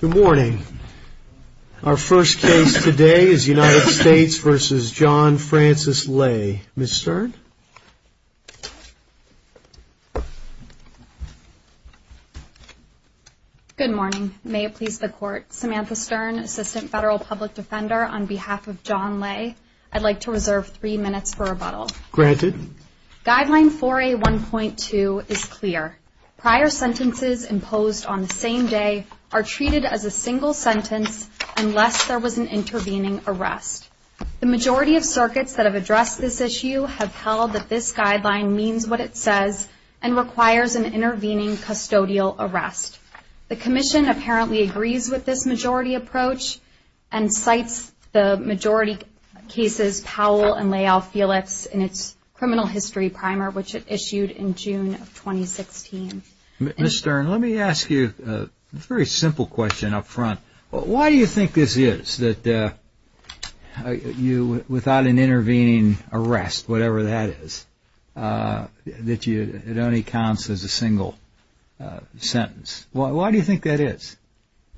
Good morning. Our first case today is United States v. John Francis Ley. Ms. Stern? Good morning. May it please the Court, Samantha Stern, Assistant Federal Public Defender, on behalf of John Ley, I'd like to reserve three minutes for rebuttal. Granted. Guideline 4A.1.2 is clear. Prior sentences imposed on the same day are treated as a single sentence unless there was an intervening arrest. The majority of circuits that have addressed this issue have held that this guideline means what it says and requires an intervening custodial arrest. The Commission apparently agrees with this majority approach and cites the majority cases Powell v. Leal-Felix in its criminal history primer, which it issued in June of 2016. Ms. Stern, let me ask you a very simple question up front. Why do you think this is, that without an intervening arrest, whatever that is, that it only counts as a single sentence? Why do you think that is?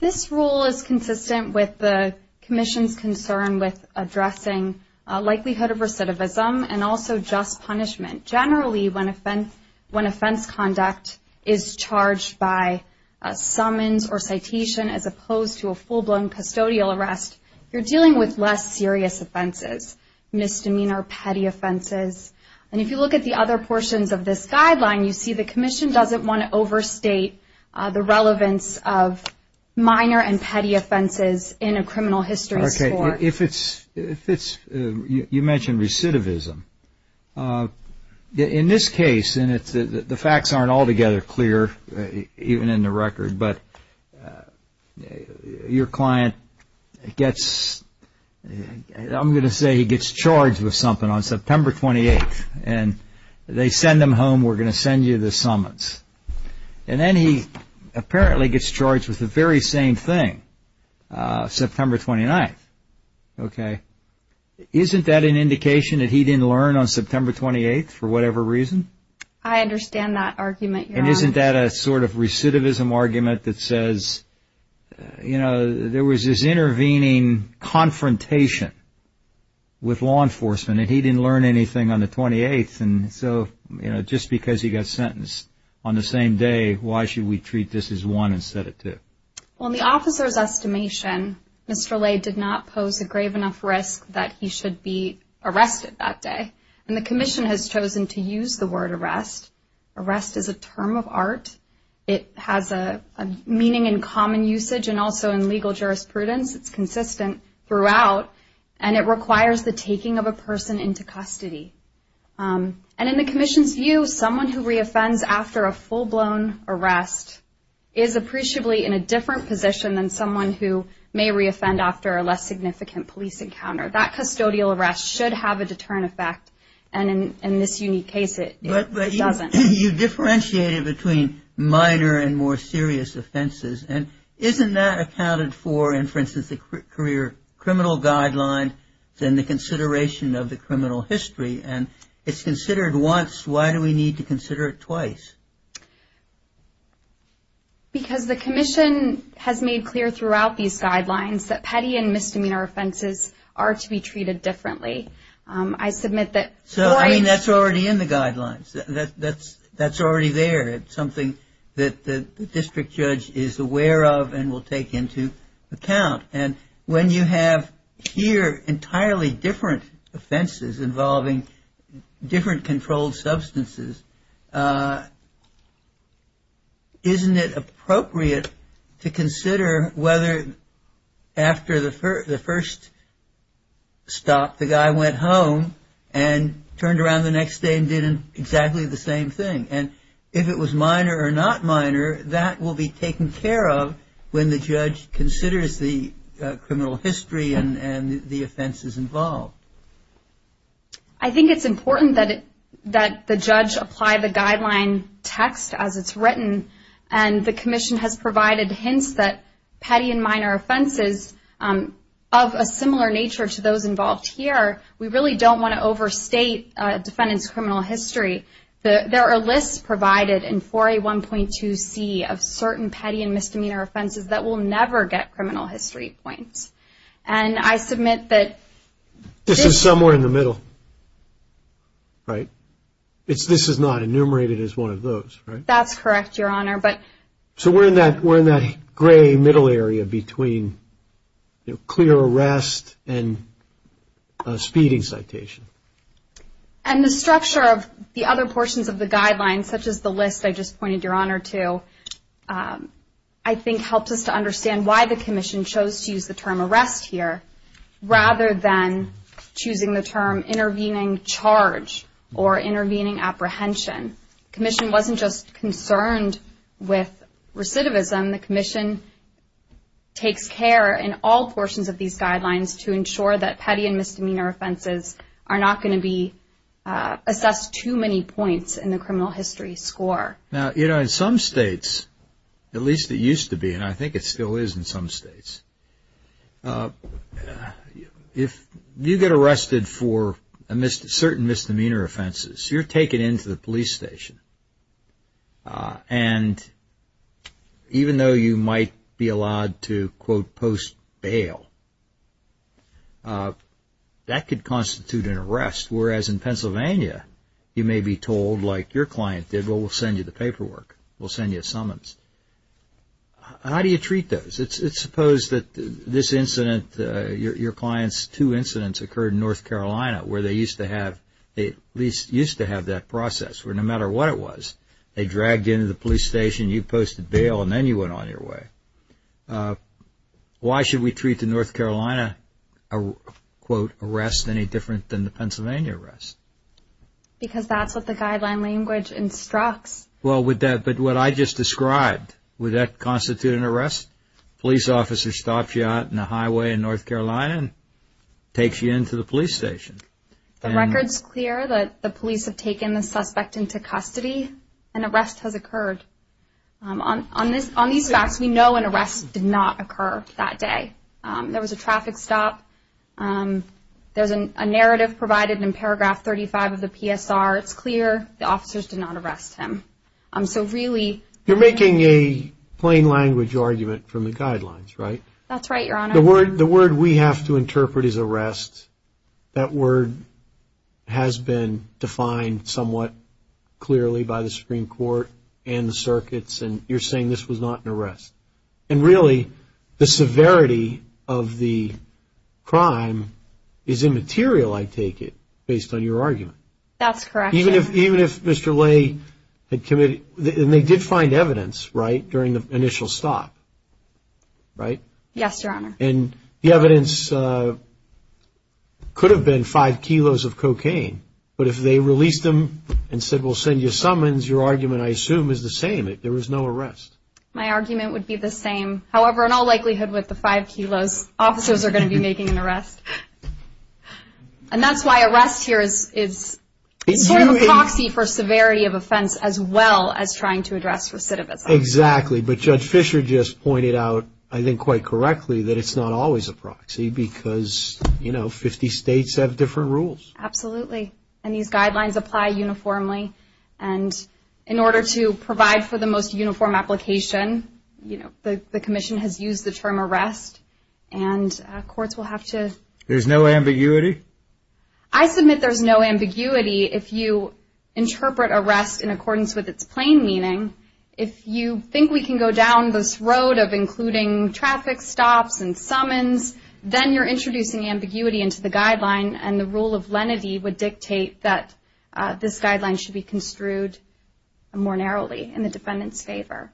This rule is consistent with the Commission's concern with addressing likelihood of recidivism and also just punishment. Generally, when offense conduct is charged by summons or citation as opposed to a full-blown custodial arrest, you're dealing with less serious offenses, misdemeanor, petty offenses. If you look at the other portions of this guideline, you see the Commission doesn't want to overstate the relevance of minor and petty offenses in a criminal history score. You mentioned recidivism. In this case, the facts aren't altogether clear, even in the record, but your client gets, I'm going to say he gets charged with something on September 28th. They send him home, we're going to send you the summons. Then he apparently gets charged with the very same thing, September 29th. Isn't that an indication that he didn't learn on September 28th for whatever reason? I understand that argument, Your Honor. Isn't that a sort of recidivism argument that says there was this intervening confrontation with law enforcement and he didn't learn anything on the 28th? Just because he got sentenced on the same day, why should we treat this as one instead of two? Well, in the officer's estimation, Mr. Lay did not pose a grave enough risk that he should be arrested that day, and the Commission has chosen to use the word arrest. Arrest is a term of art. It has a meaning in common usage and also in legal jurisprudence. It's consistent throughout, and it requires the taking of a person into custody. And in the Commission's view, someone who reoffends after a full-blown arrest is appreciably in a different position than someone who may reoffend after a less significant police encounter. That custodial arrest should have a deterrent effect, and in this unique case, it doesn't. You differentiated between minor and more serious offenses, and isn't that accounted for in, for instance, the career criminal guideline and the consideration of the criminal history? And it's considered once. Why do we need to consider it twice? Because the Commission has made clear throughout these guidelines that petty and misdemeanor offenses are to be treated differently. I submit that twice... So, I mean, that's already in the guidelines. That's already there. It's something that the district judge is aware of and will take into account. And when you have here entirely different offenses involving different controlled substances, isn't it appropriate to consider whether after the first stop, the guy went home and turned around the next day and did exactly the same thing? And if it was minor or not minor, that will be taken care of when the judge considers the criminal history and the offenses involved. I think it's important that the judge apply the guideline text as it's written, and the Commission has provided hints that petty and minor offenses of a similar nature to those involved here, we really don't want to overstate defendant's criminal history. There are lists provided in 4A1.2C of certain petty and misdemeanor offenses that will never get criminal history points. And I submit that... This is somewhere in the middle, right? This is not enumerated as one of those, right? That's correct, Your Honor, but... So we're in that gray middle area between clear arrest and speeding citation. And the structure of the other portions of the guidelines, such as the list I just pointed Your Honor to, I think helps us to understand why the Commission chose to use the term arrest here, rather than choosing the term intervening charge or intervening apprehension. The Commission wasn't just concerned with recidivism. The Commission takes care in all portions of these guidelines to ensure that petty and misdemeanor offenses are not going to be assessed too many points in the criminal history score. Now, you know, in some states, at least it used to be, and I think it still is in some states, if you get arrested for certain misdemeanor offenses, you're taken into the police station. And even though you might be allowed to, quote, post bail, that could constitute an arrest, whereas in Pennsylvania, you may be told, like your client did, well, we'll send you the paperwork. We'll send you a summons. How do you treat those? It's supposed that this incident, your client's two incidents occurred in North Carolina, where they used to have that process, where no matter what it was, they dragged you into the police station, you posted bail, and then you went on your way. Why should we treat the North Carolina, quote, arrest any different than the Pennsylvania arrest? Because that's what the guideline language instructs. Well, but what I just described, would that constitute an arrest? A police officer stops you on a highway in North Carolina and takes you into the police station. The record's clear that the police have taken the suspect into custody. An arrest has occurred. On these facts, we know an arrest did not occur that day. There was a traffic stop. There's a narrative provided in paragraph 35 of the PSR. It's clear the officers did not arrest him. So really… You're making a plain language argument from the guidelines, right? That's right, Your Honor. The word we have to interpret is arrest. That word has been defined somewhat clearly by the Supreme Court and the circuits, and you're saying this was not an arrest. And really, the severity of the crime is immaterial, I take it, based on your argument. That's correct. Even if Mr. Lay had committed – and they did find evidence, right, during the initial stop, right? Yes, Your Honor. And the evidence could have been five kilos of cocaine, but if they released him and said, we'll send you summons, your argument, I assume, is the same, that there was no arrest. My argument would be the same. However, in all likelihood, with the five kilos, officers are going to be making an arrest. And that's why arrest here is sort of a proxy for severity of offense as well as trying to address recidivism. Exactly. But Judge Fischer just pointed out, I think quite correctly, that it's not always a proxy because, you know, 50 states have different rules. Absolutely. And these guidelines apply uniformly. And in order to provide for the most uniform application, you know, the commission has used the term arrest, and courts will have to – There's no ambiguity? I submit there's no ambiguity. If you interpret arrest in accordance with its plain meaning, if you think we can go down this road of including traffic stops and summons, then you're introducing ambiguity into the guideline, and the rule of lenity would dictate that this guideline should be construed more narrowly in the defendant's favor.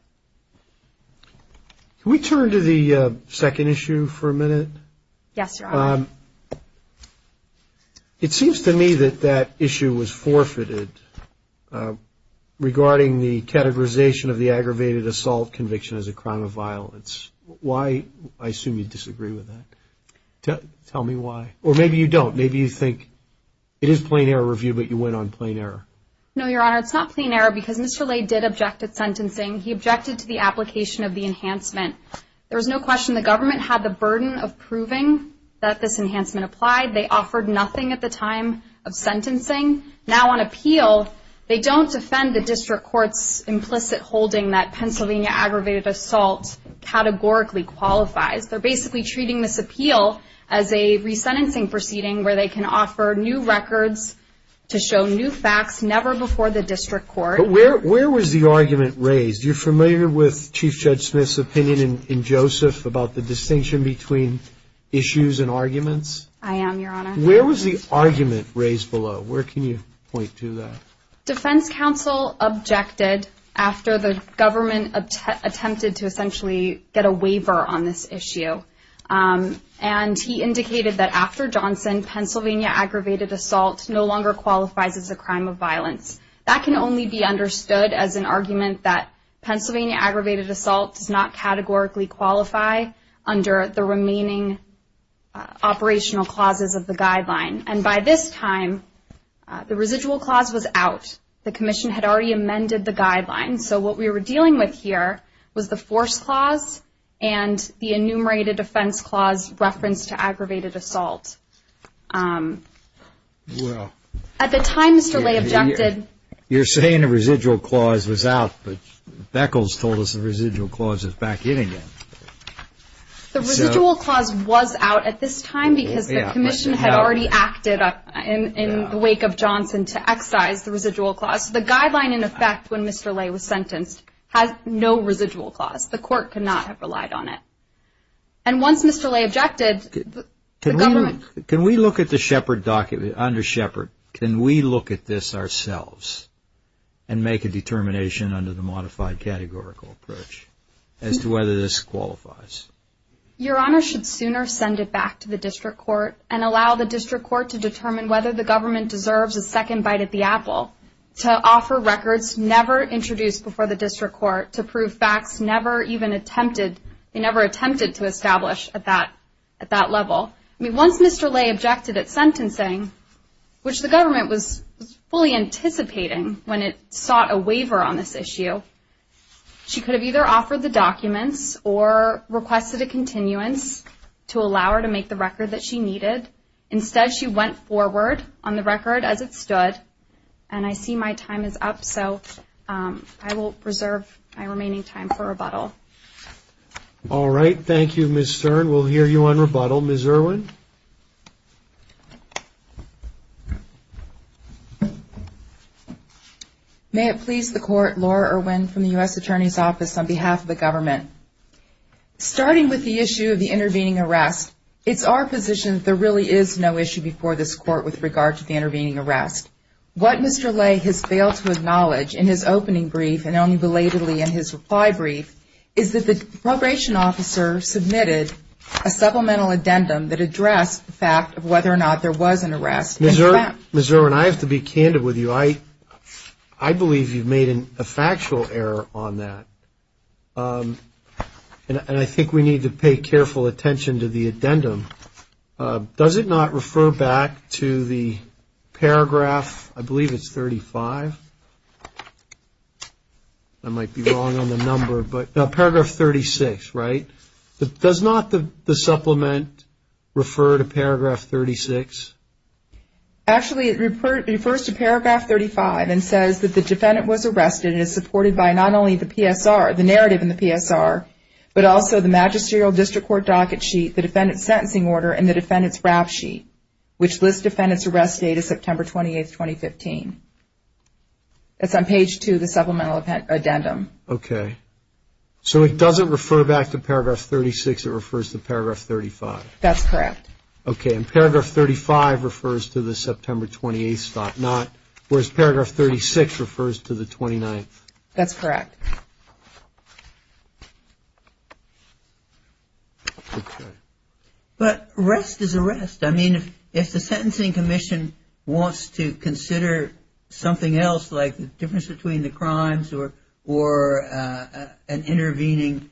Can we turn to the second issue for a minute? Yes, Your Honor. It seems to me that that issue was forfeited regarding the categorization of the aggravated assault conviction as a crime of violence. Why – I assume you disagree with that. Tell me why. Or maybe you don't. Maybe you think it is plain error review, but you went on plain error. No, Your Honor. It's not plain error because Mr. Lay did object at sentencing. He objected to the application of the enhancement. There was no question the government had the burden of proving that this enhancement applied. They offered nothing at the time of sentencing. Now on appeal, they don't defend the district court's implicit holding that Pennsylvania aggravated assault categorically qualifies. They're basically treating this appeal as a resentencing proceeding where they can offer new records to show new facts, never before the district court. But where was the argument raised? You're familiar with Chief Judge Smith's opinion in Joseph about the distinction between issues and arguments? I am, Your Honor. Where was the argument raised below? Where can you point to that? Defense counsel objected after the government attempted to essentially get a waiver on this issue. And he indicated that after Johnson, Pennsylvania aggravated assault no longer qualifies as a crime of violence. That can only be understood as an argument that Pennsylvania aggravated assault does not categorically qualify under the remaining operational clauses of the guideline. And by this time, the residual clause was out. The commission had already amended the guideline. So what we were dealing with here was the force clause and the enumerated defense clause reference to aggravated assault. At the time, Mr. Lay objected. You're saying the residual clause was out, but Beckles told us the residual clause is back in again. The residual clause was out at this time because the commission had already acted in the wake of Johnson to excise the residual clause. The guideline, in effect, when Mr. Lay was sentenced had no residual clause. The court could not have relied on it. And once Mr. Lay objected, the government... Can we look at the Shepard document, under Shepard, can we look at this ourselves and make a determination under the modified categorical approach as to whether this qualifies? Your Honor should sooner send it back to the district court and allow the district court to determine whether the government deserves a second bite at the apple to offer records never introduced before the district court to prove facts never even attempted. They never attempted to establish at that level. Once Mr. Lay objected at sentencing, which the government was fully anticipating when it sought a waiver on this issue, she could have either offered the documents or requested a continuance to allow her to make the record that she needed. Instead, she went forward on the record as it stood. And I see my time is up, so I will reserve my remaining time for rebuttal. All right, thank you, Ms. Stern. We'll hear you on rebuttal. Ms. Irwin? May it please the Court, Laura Irwin from the U.S. Attorney's Office on behalf of the government. Starting with the issue of the intervening arrest, it's our position that there really is no issue before this Court with regard to the intervening arrest. What Mr. Lay has failed to acknowledge in his opening brief and only belatedly in his reply brief is that the probation officer submitted a supplemental addendum that addressed the fact of whether or not there was an arrest. Ms. Irwin, I have to be candid with you. I believe you've made a factual error on that. And I think we need to pay careful attention to the addendum. Does it not refer back to the paragraph, I believe it's 35? I might be wrong on the number, but paragraph 36, right? Does not the supplement refer to paragraph 36? Actually, it refers to paragraph 35 and says that the defendant was arrested and is supported by not only the narrative in the PSR, but also the magisterial district court docket sheet, the defendant's sentencing order, and the defendant's rap sheet, which lists defendant's arrest date as September 28, 2015. That's on page 2 of the supplemental addendum. Okay. So it doesn't refer back to paragraph 36, it refers to paragraph 35? That's correct. Okay. And paragraph 35 refers to the September 28th stop, whereas paragraph 36 refers to the 29th? That's correct. But arrest is arrest. I mean, if the Sentencing Commission wants to consider something else, like the difference between the crimes or an intervening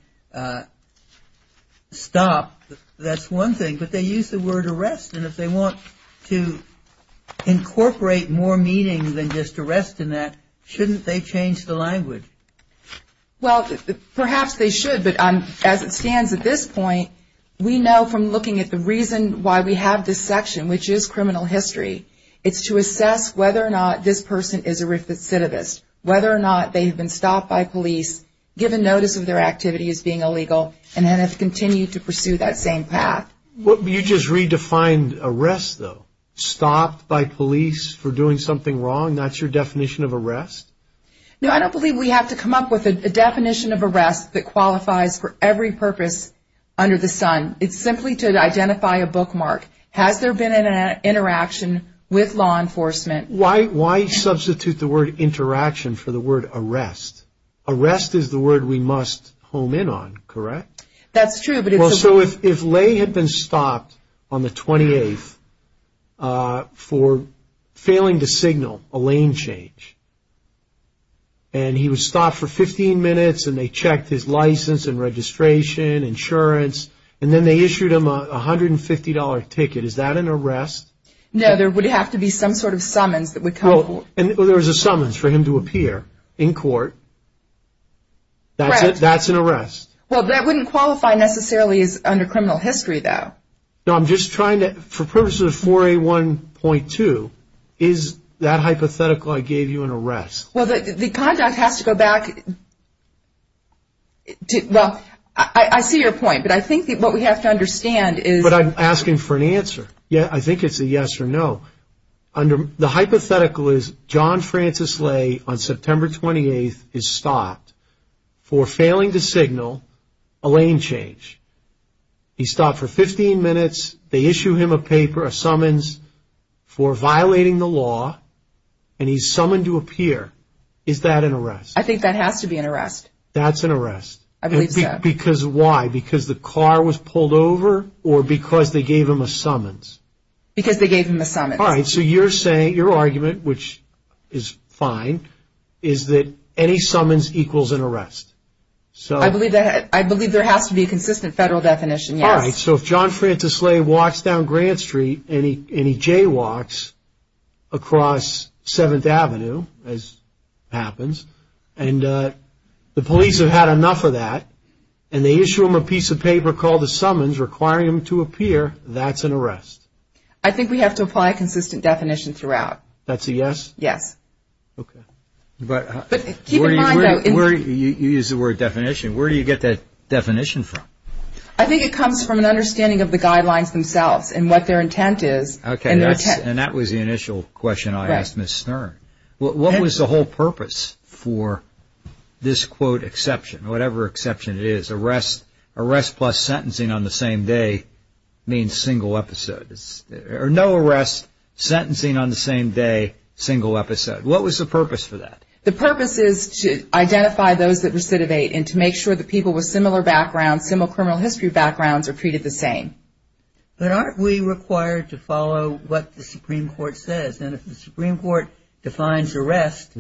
stop, that's one thing. But they use the word arrest. And if they want to incorporate more meaning than just arrest in that, shouldn't they change the language? Well, perhaps they should. But as it stands at this point, we know from looking at the reason why we have this section, which is criminal history, it's to assess whether or not this person is a recidivist, whether or not they have been stopped by police, given notice of their activity as being illegal, and then have continued to pursue that same path. You just redefined arrest, though. Stopped by police for doing something wrong, that's your definition of arrest? No, I don't believe we have to come up with a definition of arrest that qualifies for every purpose under the sun. It's simply to identify a bookmark. Has there been an interaction with law enforcement? Why substitute the word interaction for the word arrest? Arrest is the word we must home in on, correct? That's true. Well, so if Lay had been stopped on the 28th for failing to signal a lane change, and he was stopped for 15 minutes and they checked his license and registration, insurance, and then they issued him a $150 ticket, is that an arrest? No, there would have to be some sort of summons that would come. And there was a summons for him to appear in court. That's an arrest. Well, that wouldn't qualify necessarily as under criminal history, though. No, I'm just trying to, for purposes of 4A1.2, is that hypothetical I gave you an arrest? Well, the conduct has to go back to, well, I see your point, but I think what we have to understand is... But I'm asking for an answer. Yeah, I think it's a yes or no. The hypothetical is John Francis Lay on September 28th is stopped for failing to signal a lane change. He's stopped for 15 minutes. They issue him a paper, a summons for violating the law, and he's summoned to appear. Is that an arrest? I think that has to be an arrest. That's an arrest. I believe so. Why? Because the car was pulled over or because they gave him a summons? Because they gave him a summons. All right. So you're saying, your argument, which is fine, is that any summons equals an arrest. I believe there has to be a consistent federal definition, yes. All right. So if John Francis Lay walks down Grant Street and he jaywalks across 7th Avenue, as happens, and the police have had enough of that, and they issue him a piece of paper called a summons requiring him to appear, that's an arrest? I think we have to apply a consistent definition throughout. That's a yes? Yes. Okay. But keep in mind, though, You use the word definition. Where do you get that definition from? I think it comes from an understanding of the guidelines themselves and what their intent is. Okay. And that was the initial question I asked Ms. Stern. What was the whole purpose for this, quote, exception, whatever exception it is, arrest plus sentencing on the same day means single episode. Or no arrest, sentencing on the same day, single episode. What was the purpose for that? The purpose is to identify those that recidivate and to make sure that people with similar backgrounds, similar criminal history backgrounds, are treated the same. But aren't we required to follow what the Supreme Court says? And if the Supreme Court defines arrest,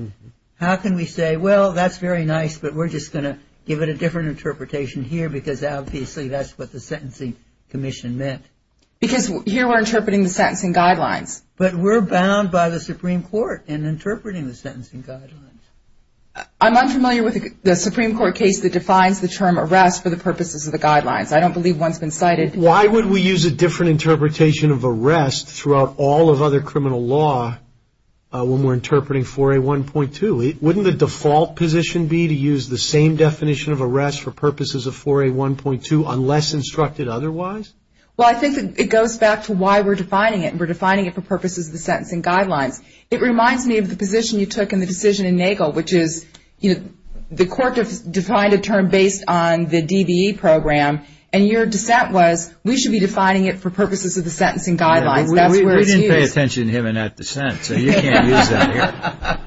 how can we say, well, that's very nice, but we're just going to give it a different interpretation here because obviously that's what the sentencing commission meant. Because here we're interpreting the sentencing guidelines. But we're bound by the Supreme Court in interpreting the sentencing guidelines. I'm unfamiliar with the Supreme Court case that defines the term arrest for the purposes of the guidelines. I don't believe one's been cited. Why would we use a different interpretation of arrest throughout all of other criminal law when we're interpreting 4A1.2? Wouldn't the default position be to use the same definition of arrest for purposes of 4A1.2 unless instructed otherwise? Well, I think it goes back to why we're defining it. We're defining it for purposes of the sentencing guidelines. It reminds me of the position you took in the decision in Nagel, which is the court defined a term based on the DBE program, and your dissent was we should be defining it for purposes of the sentencing guidelines. We didn't pay attention to him in that dissent, so you can't use that here.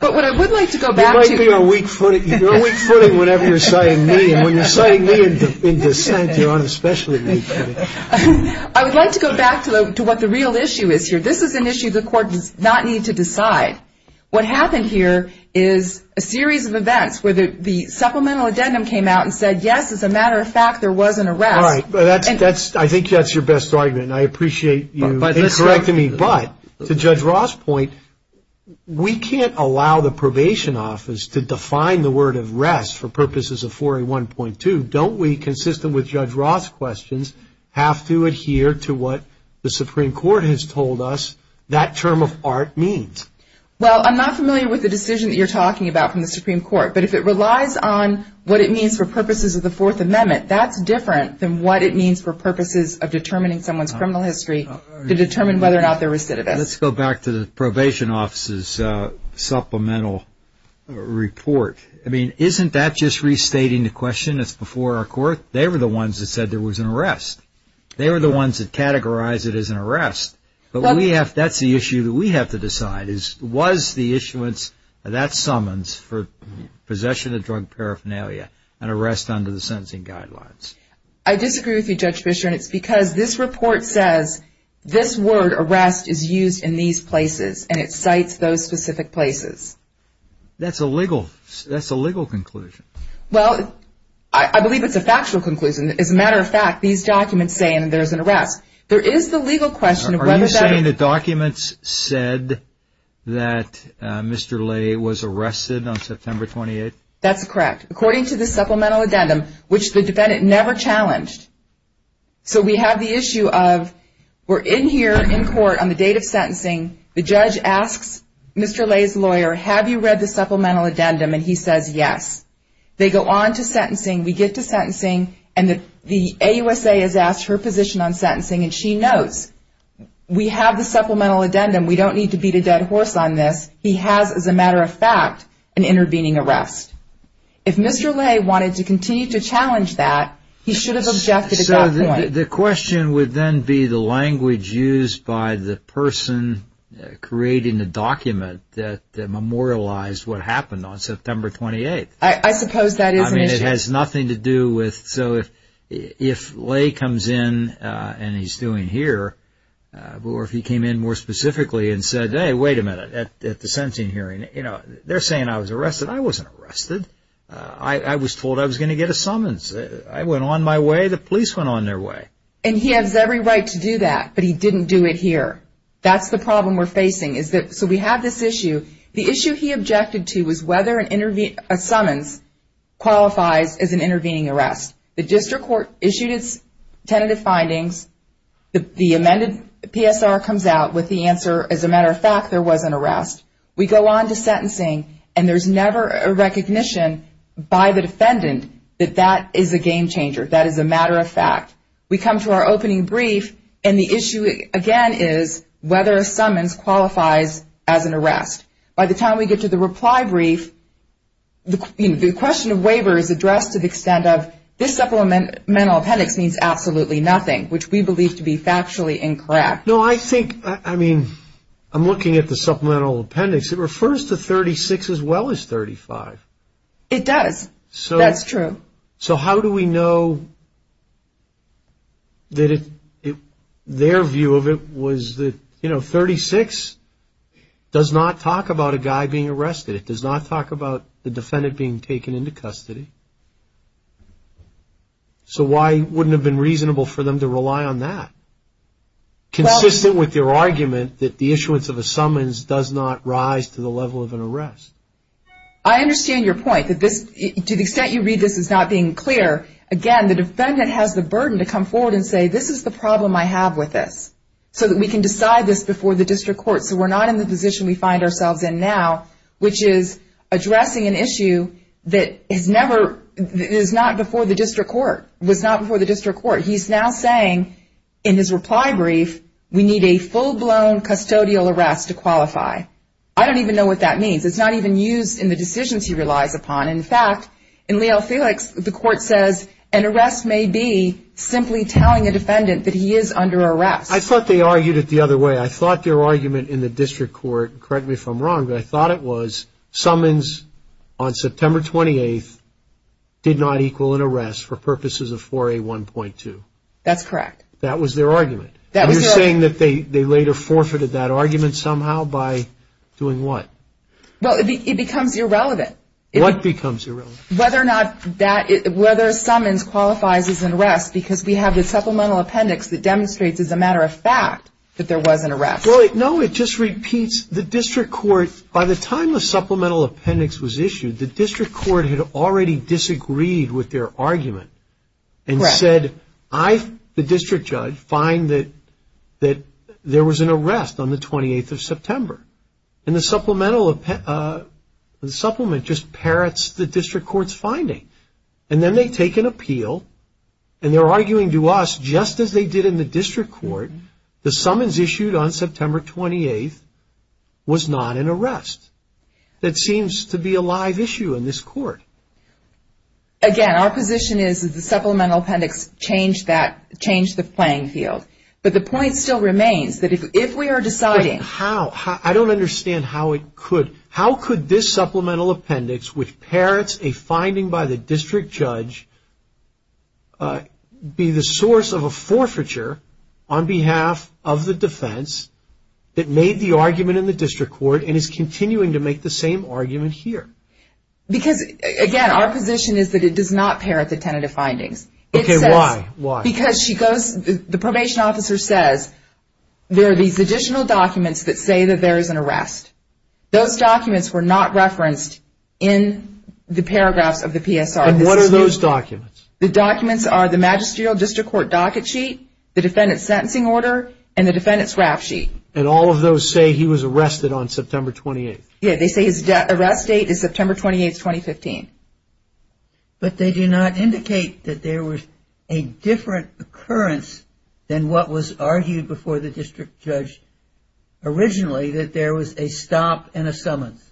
But what I would like to go back to. You might be on weak footing. You're on weak footing whenever you're citing me. And when you're citing me in dissent, you're on especially weak footing. I would like to go back to what the real issue is here. This is an issue the court does not need to decide. What happened here is a series of events where the supplemental addendum came out and said, yes, as a matter of fact, there was an arrest. I think that's your best argument, and I appreciate you correcting me. But to Judge Roth's point, we can't allow the probation office to define the word arrest for purposes of 4A1.2. Don't we, consistent with Judge Roth's questions, have to adhere to what the Supreme Court has told us that term of art means? Well, I'm not familiar with the decision that you're talking about from the Supreme Court. But if it relies on what it means for purposes of the Fourth Amendment, that's different than what it means for purposes of determining someone's criminal history to determine whether or not they're recidivist. Let's go back to the probation office's supplemental report. I mean, isn't that just restating the question that's before our court? They were the ones that said there was an arrest. They were the ones that categorized it as an arrest. But that's the issue that we have to decide is was the issuance of that summons for possession of drug paraphernalia an arrest under the sentencing guidelines? I disagree with you, Judge Fischer, and it's because this report says this word arrest is used in these places, and it cites those specific places. That's a legal conclusion. Well, I believe it's a factual conclusion. As a matter of fact, these documents say there's an arrest. There is the legal question of whether that... Are you saying the documents said that Mr. Lay was arrested on September 28? That's correct. According to the supplemental addendum, which the defendant never challenged. So we have the issue of we're in here in court on the date of sentencing. The judge asks Mr. Lay's lawyer, have you read the supplemental addendum? And he says yes. They go on to sentencing. We get to sentencing, and the AUSA has asked her position on sentencing, and she knows. We have the supplemental addendum. We don't need to beat a dead horse on this. He has, as a matter of fact, an intervening arrest. If Mr. Lay wanted to continue to challenge that, he should have objected at that point. So the question would then be the language used by the person creating the document that memorialized what happened on September 28. I suppose that is an issue. I mean, it has nothing to do with... So if Lay comes in, and he's doing here, or if he came in more specifically and said, hey, wait a minute, at the sentencing hearing, they're saying I was arrested. I wasn't arrested. I was told I was going to get a summons. I went on my way. The police went on their way. And he has every right to do that, but he didn't do it here. That's the problem we're facing. So we have this issue. The issue he objected to was whether a summons qualifies as an intervening arrest. The district court issued its tentative findings. The amended PSR comes out with the answer, as a matter of fact, there was an arrest. We go on to sentencing, and there's never a recognition by the defendant that that is a game changer, that is a matter of fact. We come to our opening brief, and the issue, again, is whether a summons qualifies as an arrest. By the time we get to the reply brief, the question of waiver is addressed to the extent of, this supplemental appendix means absolutely nothing, which we believe to be factually incorrect. No, I think, I mean, I'm looking at the supplemental appendix. It refers to 36 as well as 35. It does. That's true. So how do we know that their view of it was that, you know, 36 does not talk about a guy being arrested. It does not talk about the defendant being taken into custody. So why wouldn't it have been reasonable for them to rely on that, consistent with their argument that the issuance of a summons does not rise to the level of an arrest? I understand your point, that this, to the extent you read this as not being clear, again, the defendant has the burden to come forward and say, this is the problem I have with this, so that we can decide this before the district court, so we're not in the position we find ourselves in now, which is addressing an issue that has never, is not before the district court, was not before the district court. He's now saying in his reply brief, we need a full-blown custodial arrest to qualify. I don't even know what that means. It's not even used in the decisions he relies upon. In fact, in Leo Felix, the court says an arrest may be simply telling a defendant that he is under arrest. I thought they argued it the other way. I thought their argument in the district court, correct me if I'm wrong, but I thought it was summons on September 28th did not equal an arrest for purposes of 4A1.2. That's correct. That was their argument. You're saying that they later forfeited that argument somehow by doing what? Well, it becomes irrelevant. What becomes irrelevant? Whether summons qualifies as an arrest, because we have the supplemental appendix that demonstrates as a matter of fact that there was an arrest. No, it just repeats the district court. By the time the supplemental appendix was issued, the district court had already disagreed with their argument and said, I, the district judge, find that there was an arrest on the 28th of September. And the supplement just parrots the district court's finding. And then they take an appeal, and they're arguing to us, just as they did in the district court, the summons issued on September 28th was not an arrest. That seems to be a live issue in this court. Again, our position is that the supplemental appendix changed the playing field. But the point still remains that if we are deciding. How? I don't understand how it could. How could this supplemental appendix, which parrots a finding by the district judge, be the source of a forfeiture on behalf of the defense that made the argument in the district court and is continuing to make the same argument here? Because, again, our position is that it does not parrot the tentative findings. Okay, why? Because she goes, the probation officer says, there are these additional documents that say that there is an arrest. Those documents were not referenced in the paragraphs of the PSR. And what are those documents? The documents are the magisterial district court docket sheet, the defendant's sentencing order, and the defendant's rap sheet. And all of those say he was arrested on September 28th? Yeah, they say his arrest date is September 28th, 2015. But they do not indicate that there was a different occurrence than what was argued before the district judge originally, that there was a stop and a summons,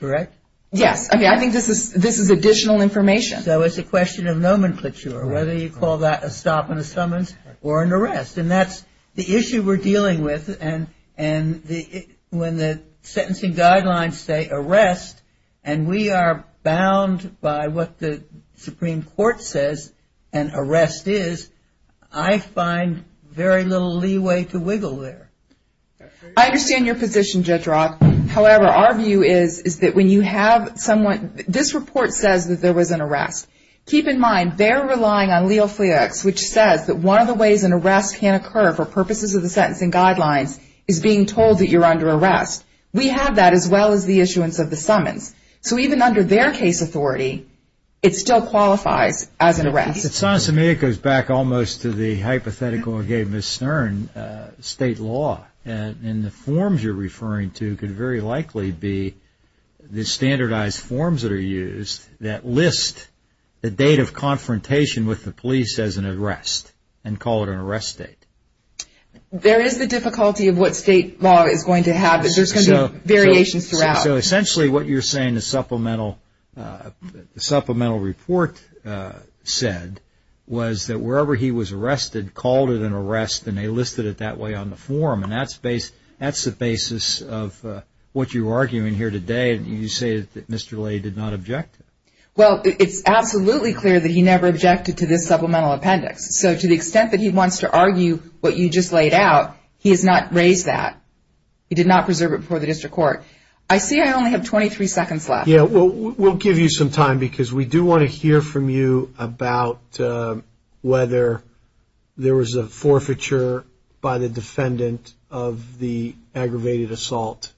correct? Yes. Okay, I think this is additional information. So it's a question of nomenclature, whether you call that a stop and a summons or an arrest. And that's the issue we're dealing with. And when the sentencing guidelines say arrest, and we are bound by what the Supreme Court says an arrest is, I find very little leeway to wiggle there. I understand your position, Judge Rock. However, our view is that when you have someone, this report says that there was an arrest. Keep in mind, they're relying on Leal-Fleox, which says that one of the ways an arrest can occur for purposes of the sentencing guidelines is being told that you're under arrest. We have that as well as the issuance of the summons. So even under their case authority, it still qualifies as an arrest. It goes back almost to the hypothetical I gave Ms. Stern, state law. And the forms you're referring to could very likely be the standardized forms that are used that list the date of confrontation with the police as an arrest and call it an arrest date. There is the difficulty of what state law is going to have. There's going to be variations throughout. So essentially what you're saying the supplemental report said was that wherever he was arrested, called it an arrest, and they listed it that way on the form. And that's the basis of what you're arguing here today. You say that Mr. Lee did not object to it. Well, it's absolutely clear that he never objected to this supplemental appendix. So to the extent that he wants to argue what you just laid out, he has not raised that. He did not preserve it before the district court. I see I only have 23 seconds left. Yeah, we'll give you some time because we do want to hear from you about whether there was a forfeiture by the defendant of the aggravated assault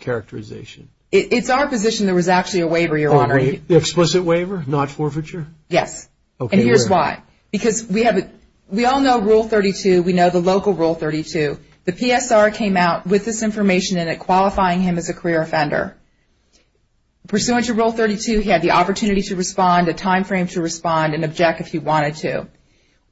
characterization. It's our position there was actually a waiver, Your Honor. The explicit waiver, not forfeiture? Yes. And here's why. Because we all know Rule 32. We know the local Rule 32. The PSR came out with this information in it qualifying him as a career offender. Pursuant to Rule 32, he had the opportunity to respond, a time frame to respond, and object if he wanted to.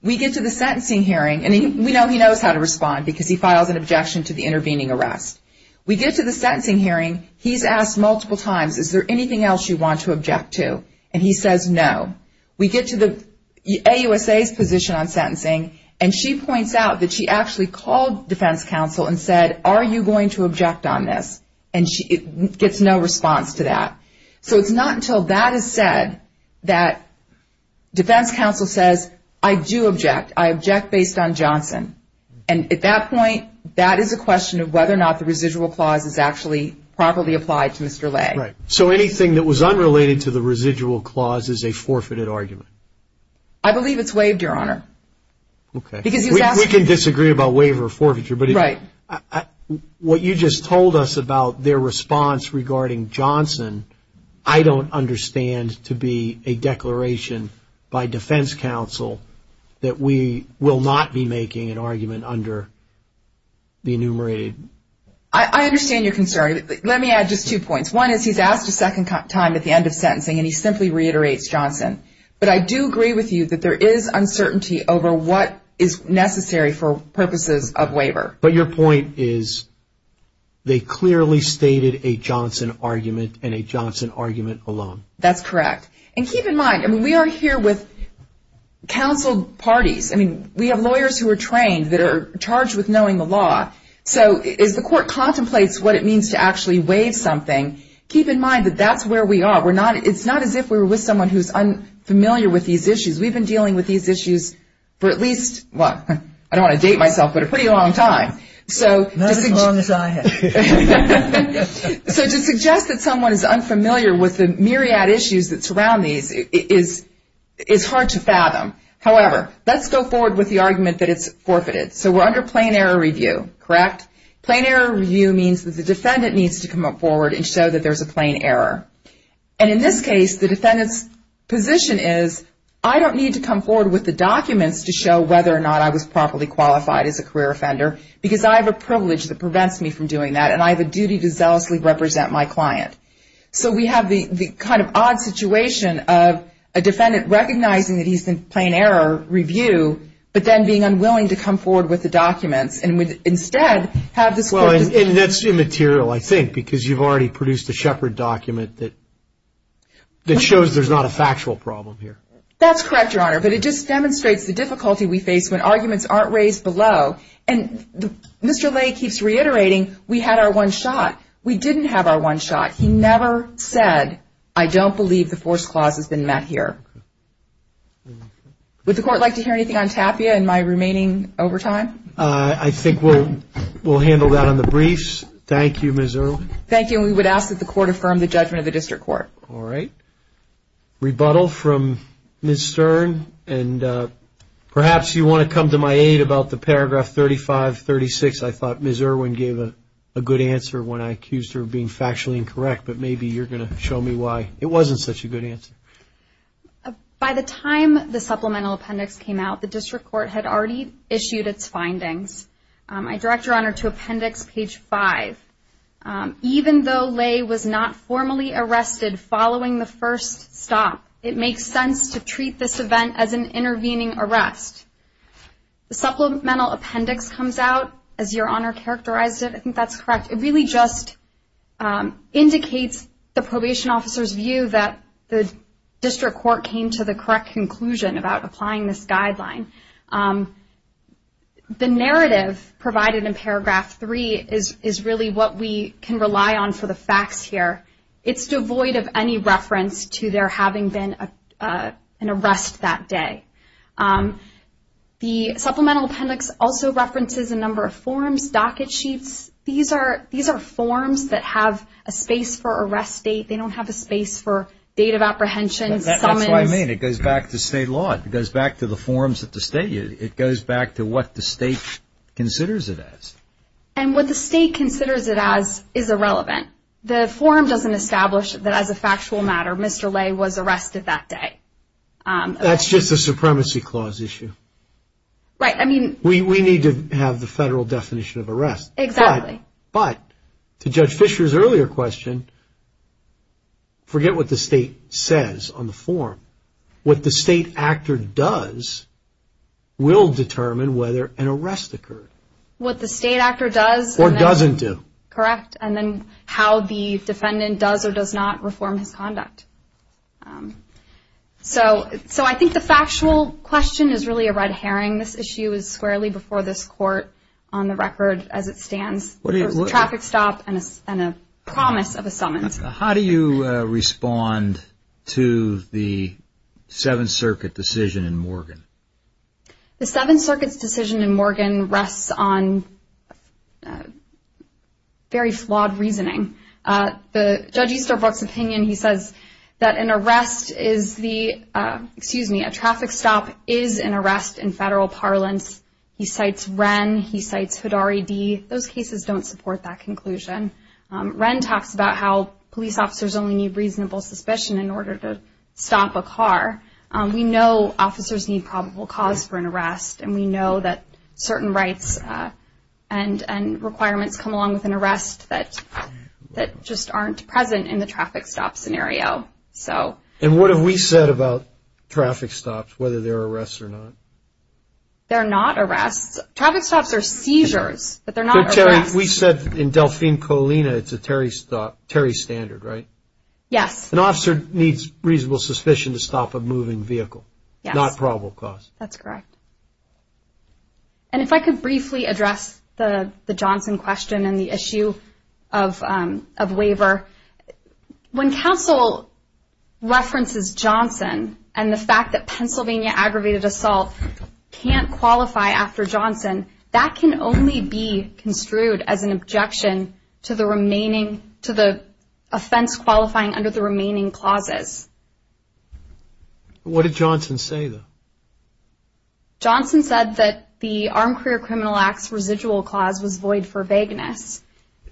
We get to the sentencing hearing, and we know he knows how to respond because he files an objection to the intervening arrest. We get to the sentencing hearing, he's asked multiple times, is there anything else you want to object to? And he says no. We get to the AUSA's position on sentencing, and she points out that she actually called defense counsel and said, are you going to object on this? And she gets no response to that. So it's not until that is said that defense counsel says, I do object. I object based on Johnson. And at that point, that is a question of whether or not the residual clause is actually properly applied to Mr. Lay. Right. So anything that was unrelated to the residual clause is a forfeited argument? I believe it's waived, Your Honor. Okay. We can disagree about waiver or forfeiture. Right. What you just told us about their response regarding Johnson, I don't understand to be a declaration by defense counsel that we will not be making an argument under the enumerated. I understand your concern. Let me add just two points. One is he's asked a second time at the end of sentencing, and he simply reiterates Johnson. But I do agree with you that there is uncertainty over what is necessary for purposes of waiver. But your point is they clearly stated a Johnson argument and a Johnson argument alone. That's correct. And keep in mind, we are here with counseled parties. I mean, we have lawyers who are trained that are charged with knowing the law. So as the court contemplates what it means to actually waive something, keep in mind that that's where we are. It's not as if we were with someone who's unfamiliar with these issues. We've been dealing with these issues for at least, well, I don't want to date myself, but a pretty long time. Not as long as I have. So to suggest that someone is unfamiliar with the myriad issues that surround these is hard to fathom. However, let's go forward with the argument that it's forfeited. So we're under plain error review, correct? Plain error review means that the defendant needs to come up forward and show that there's a plain error. And in this case, the defendant's position is, I don't need to come forward with the documents to show whether or not I was properly qualified as a career offender, because I have a privilege that prevents me from doing that, and I have a duty to zealously represent my client. So we have the kind of odd situation of a defendant recognizing that he's in plain error review, but then being unwilling to come forward with the documents and instead have this court decide. And that's immaterial, I think, because you've already produced a Shepard document that shows there's not a That's correct, Your Honor, but it just demonstrates the difficulty we face when arguments aren't raised below. And Mr. Lay keeps reiterating, we had our one shot. We didn't have our one shot. He never said, I don't believe the force clause has been met here. Would the court like to hear anything on Tapia in my remaining overtime? I think we'll handle that on the briefs. Thank you, Ms. Irwin. Thank you. And we would ask that the court affirm the judgment of the district court. All right. Rebuttal from Ms. Stern, and perhaps you want to come to my aid about the paragraph 35-36. I thought Ms. Irwin gave a good answer when I accused her of being factually incorrect, but maybe you're going to show me why it wasn't such a good answer. By the time the supplemental appendix came out, the district court had already issued its findings. I direct Your Honor to appendix page 5. Even though Lay was not formally arrested following the first stop, it makes sense to treat this event as an intervening arrest. The supplemental appendix comes out, as Your Honor characterized it. I think that's correct. It really just indicates the probation officer's view that the district court came to the correct conclusion about applying this guideline. The narrative provided in paragraph 3 is really what we can rely on for the facts here. It's devoid of any reference to there having been an arrest that day. The supplemental appendix also references a number of forms, docket sheets. These are forms that have a space for arrest date. They don't have a space for date of apprehension, summons. That's what I mean. It goes back to state law. It goes back to the forms at the state. It goes back to what the state considers it as. What the state considers it as is irrelevant. The form doesn't establish that, as a factual matter, Mr. Lay was arrested that day. That's just a supremacy clause issue. Right. We need to have the federal definition of arrest. Exactly. But to Judge Fisher's earlier question, forget what the state says on the form. What the state actor does will determine whether an arrest occurred. What the state actor does. Or doesn't do. Correct. And then how the defendant does or does not reform his conduct. So I think the factual question is really a red herring. This issue is squarely before this court on the record as it stands. A traffic stop and a promise of a summons. How do you respond to the Seventh Circuit decision in Morgan? The Seventh Circuit's decision in Morgan rests on very flawed reasoning. Judge Easterbrook's opinion, he says that an arrest is the, excuse me, a traffic stop is an arrest in federal parlance. He cites Wren. He cites Hidari D. Those cases don't support that conclusion. Wren talks about how police officers only need reasonable suspicion in order to stop a car. We know officers need probable cause for an arrest, and we know that certain rights and requirements come along with an arrest that just aren't present in the traffic stop scenario. And what have we said about traffic stops, whether they're arrests or not? They're not arrests. Traffic stops are seizures, but they're not arrests. No, Terry, we said in Delphine Colina it's a Terry standard, right? Yes. An officer needs reasonable suspicion to stop a moving vehicle. Yes. Not probable cause. That's correct. And if I could briefly address the Johnson question and the issue of waiver. When counsel references Johnson and the fact that Pennsylvania aggravated assault can't qualify after Johnson, that can only be construed as an objection to the remaining – to the offense qualifying under the remaining clauses. What did Johnson say, though? Johnson said that the Armed Career Criminal Act's residual clause was void for vagueness.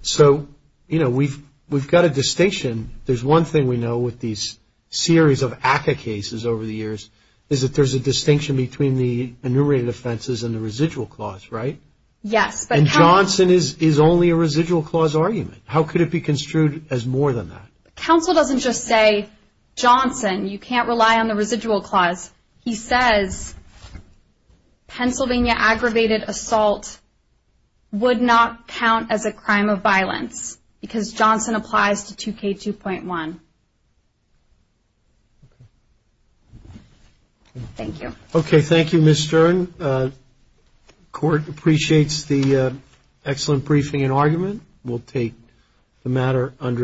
So, you know, we've got a distinction. There's one thing we know with these series of ACCA cases over the years is that there's a distinction between the enumerated offenses and the residual clause, right? Yes. And Johnson is only a residual clause argument. How could it be construed as more than that? Counsel doesn't just say, Johnson, you can't rely on the residual clause. He says Pennsylvania aggravated assault would not count as a crime of violence because Johnson applies to 2K2.1. Thank you. Okay, thank you, Ms. Stern. Court appreciates the excellent briefing and argument. We'll take the matter under its own.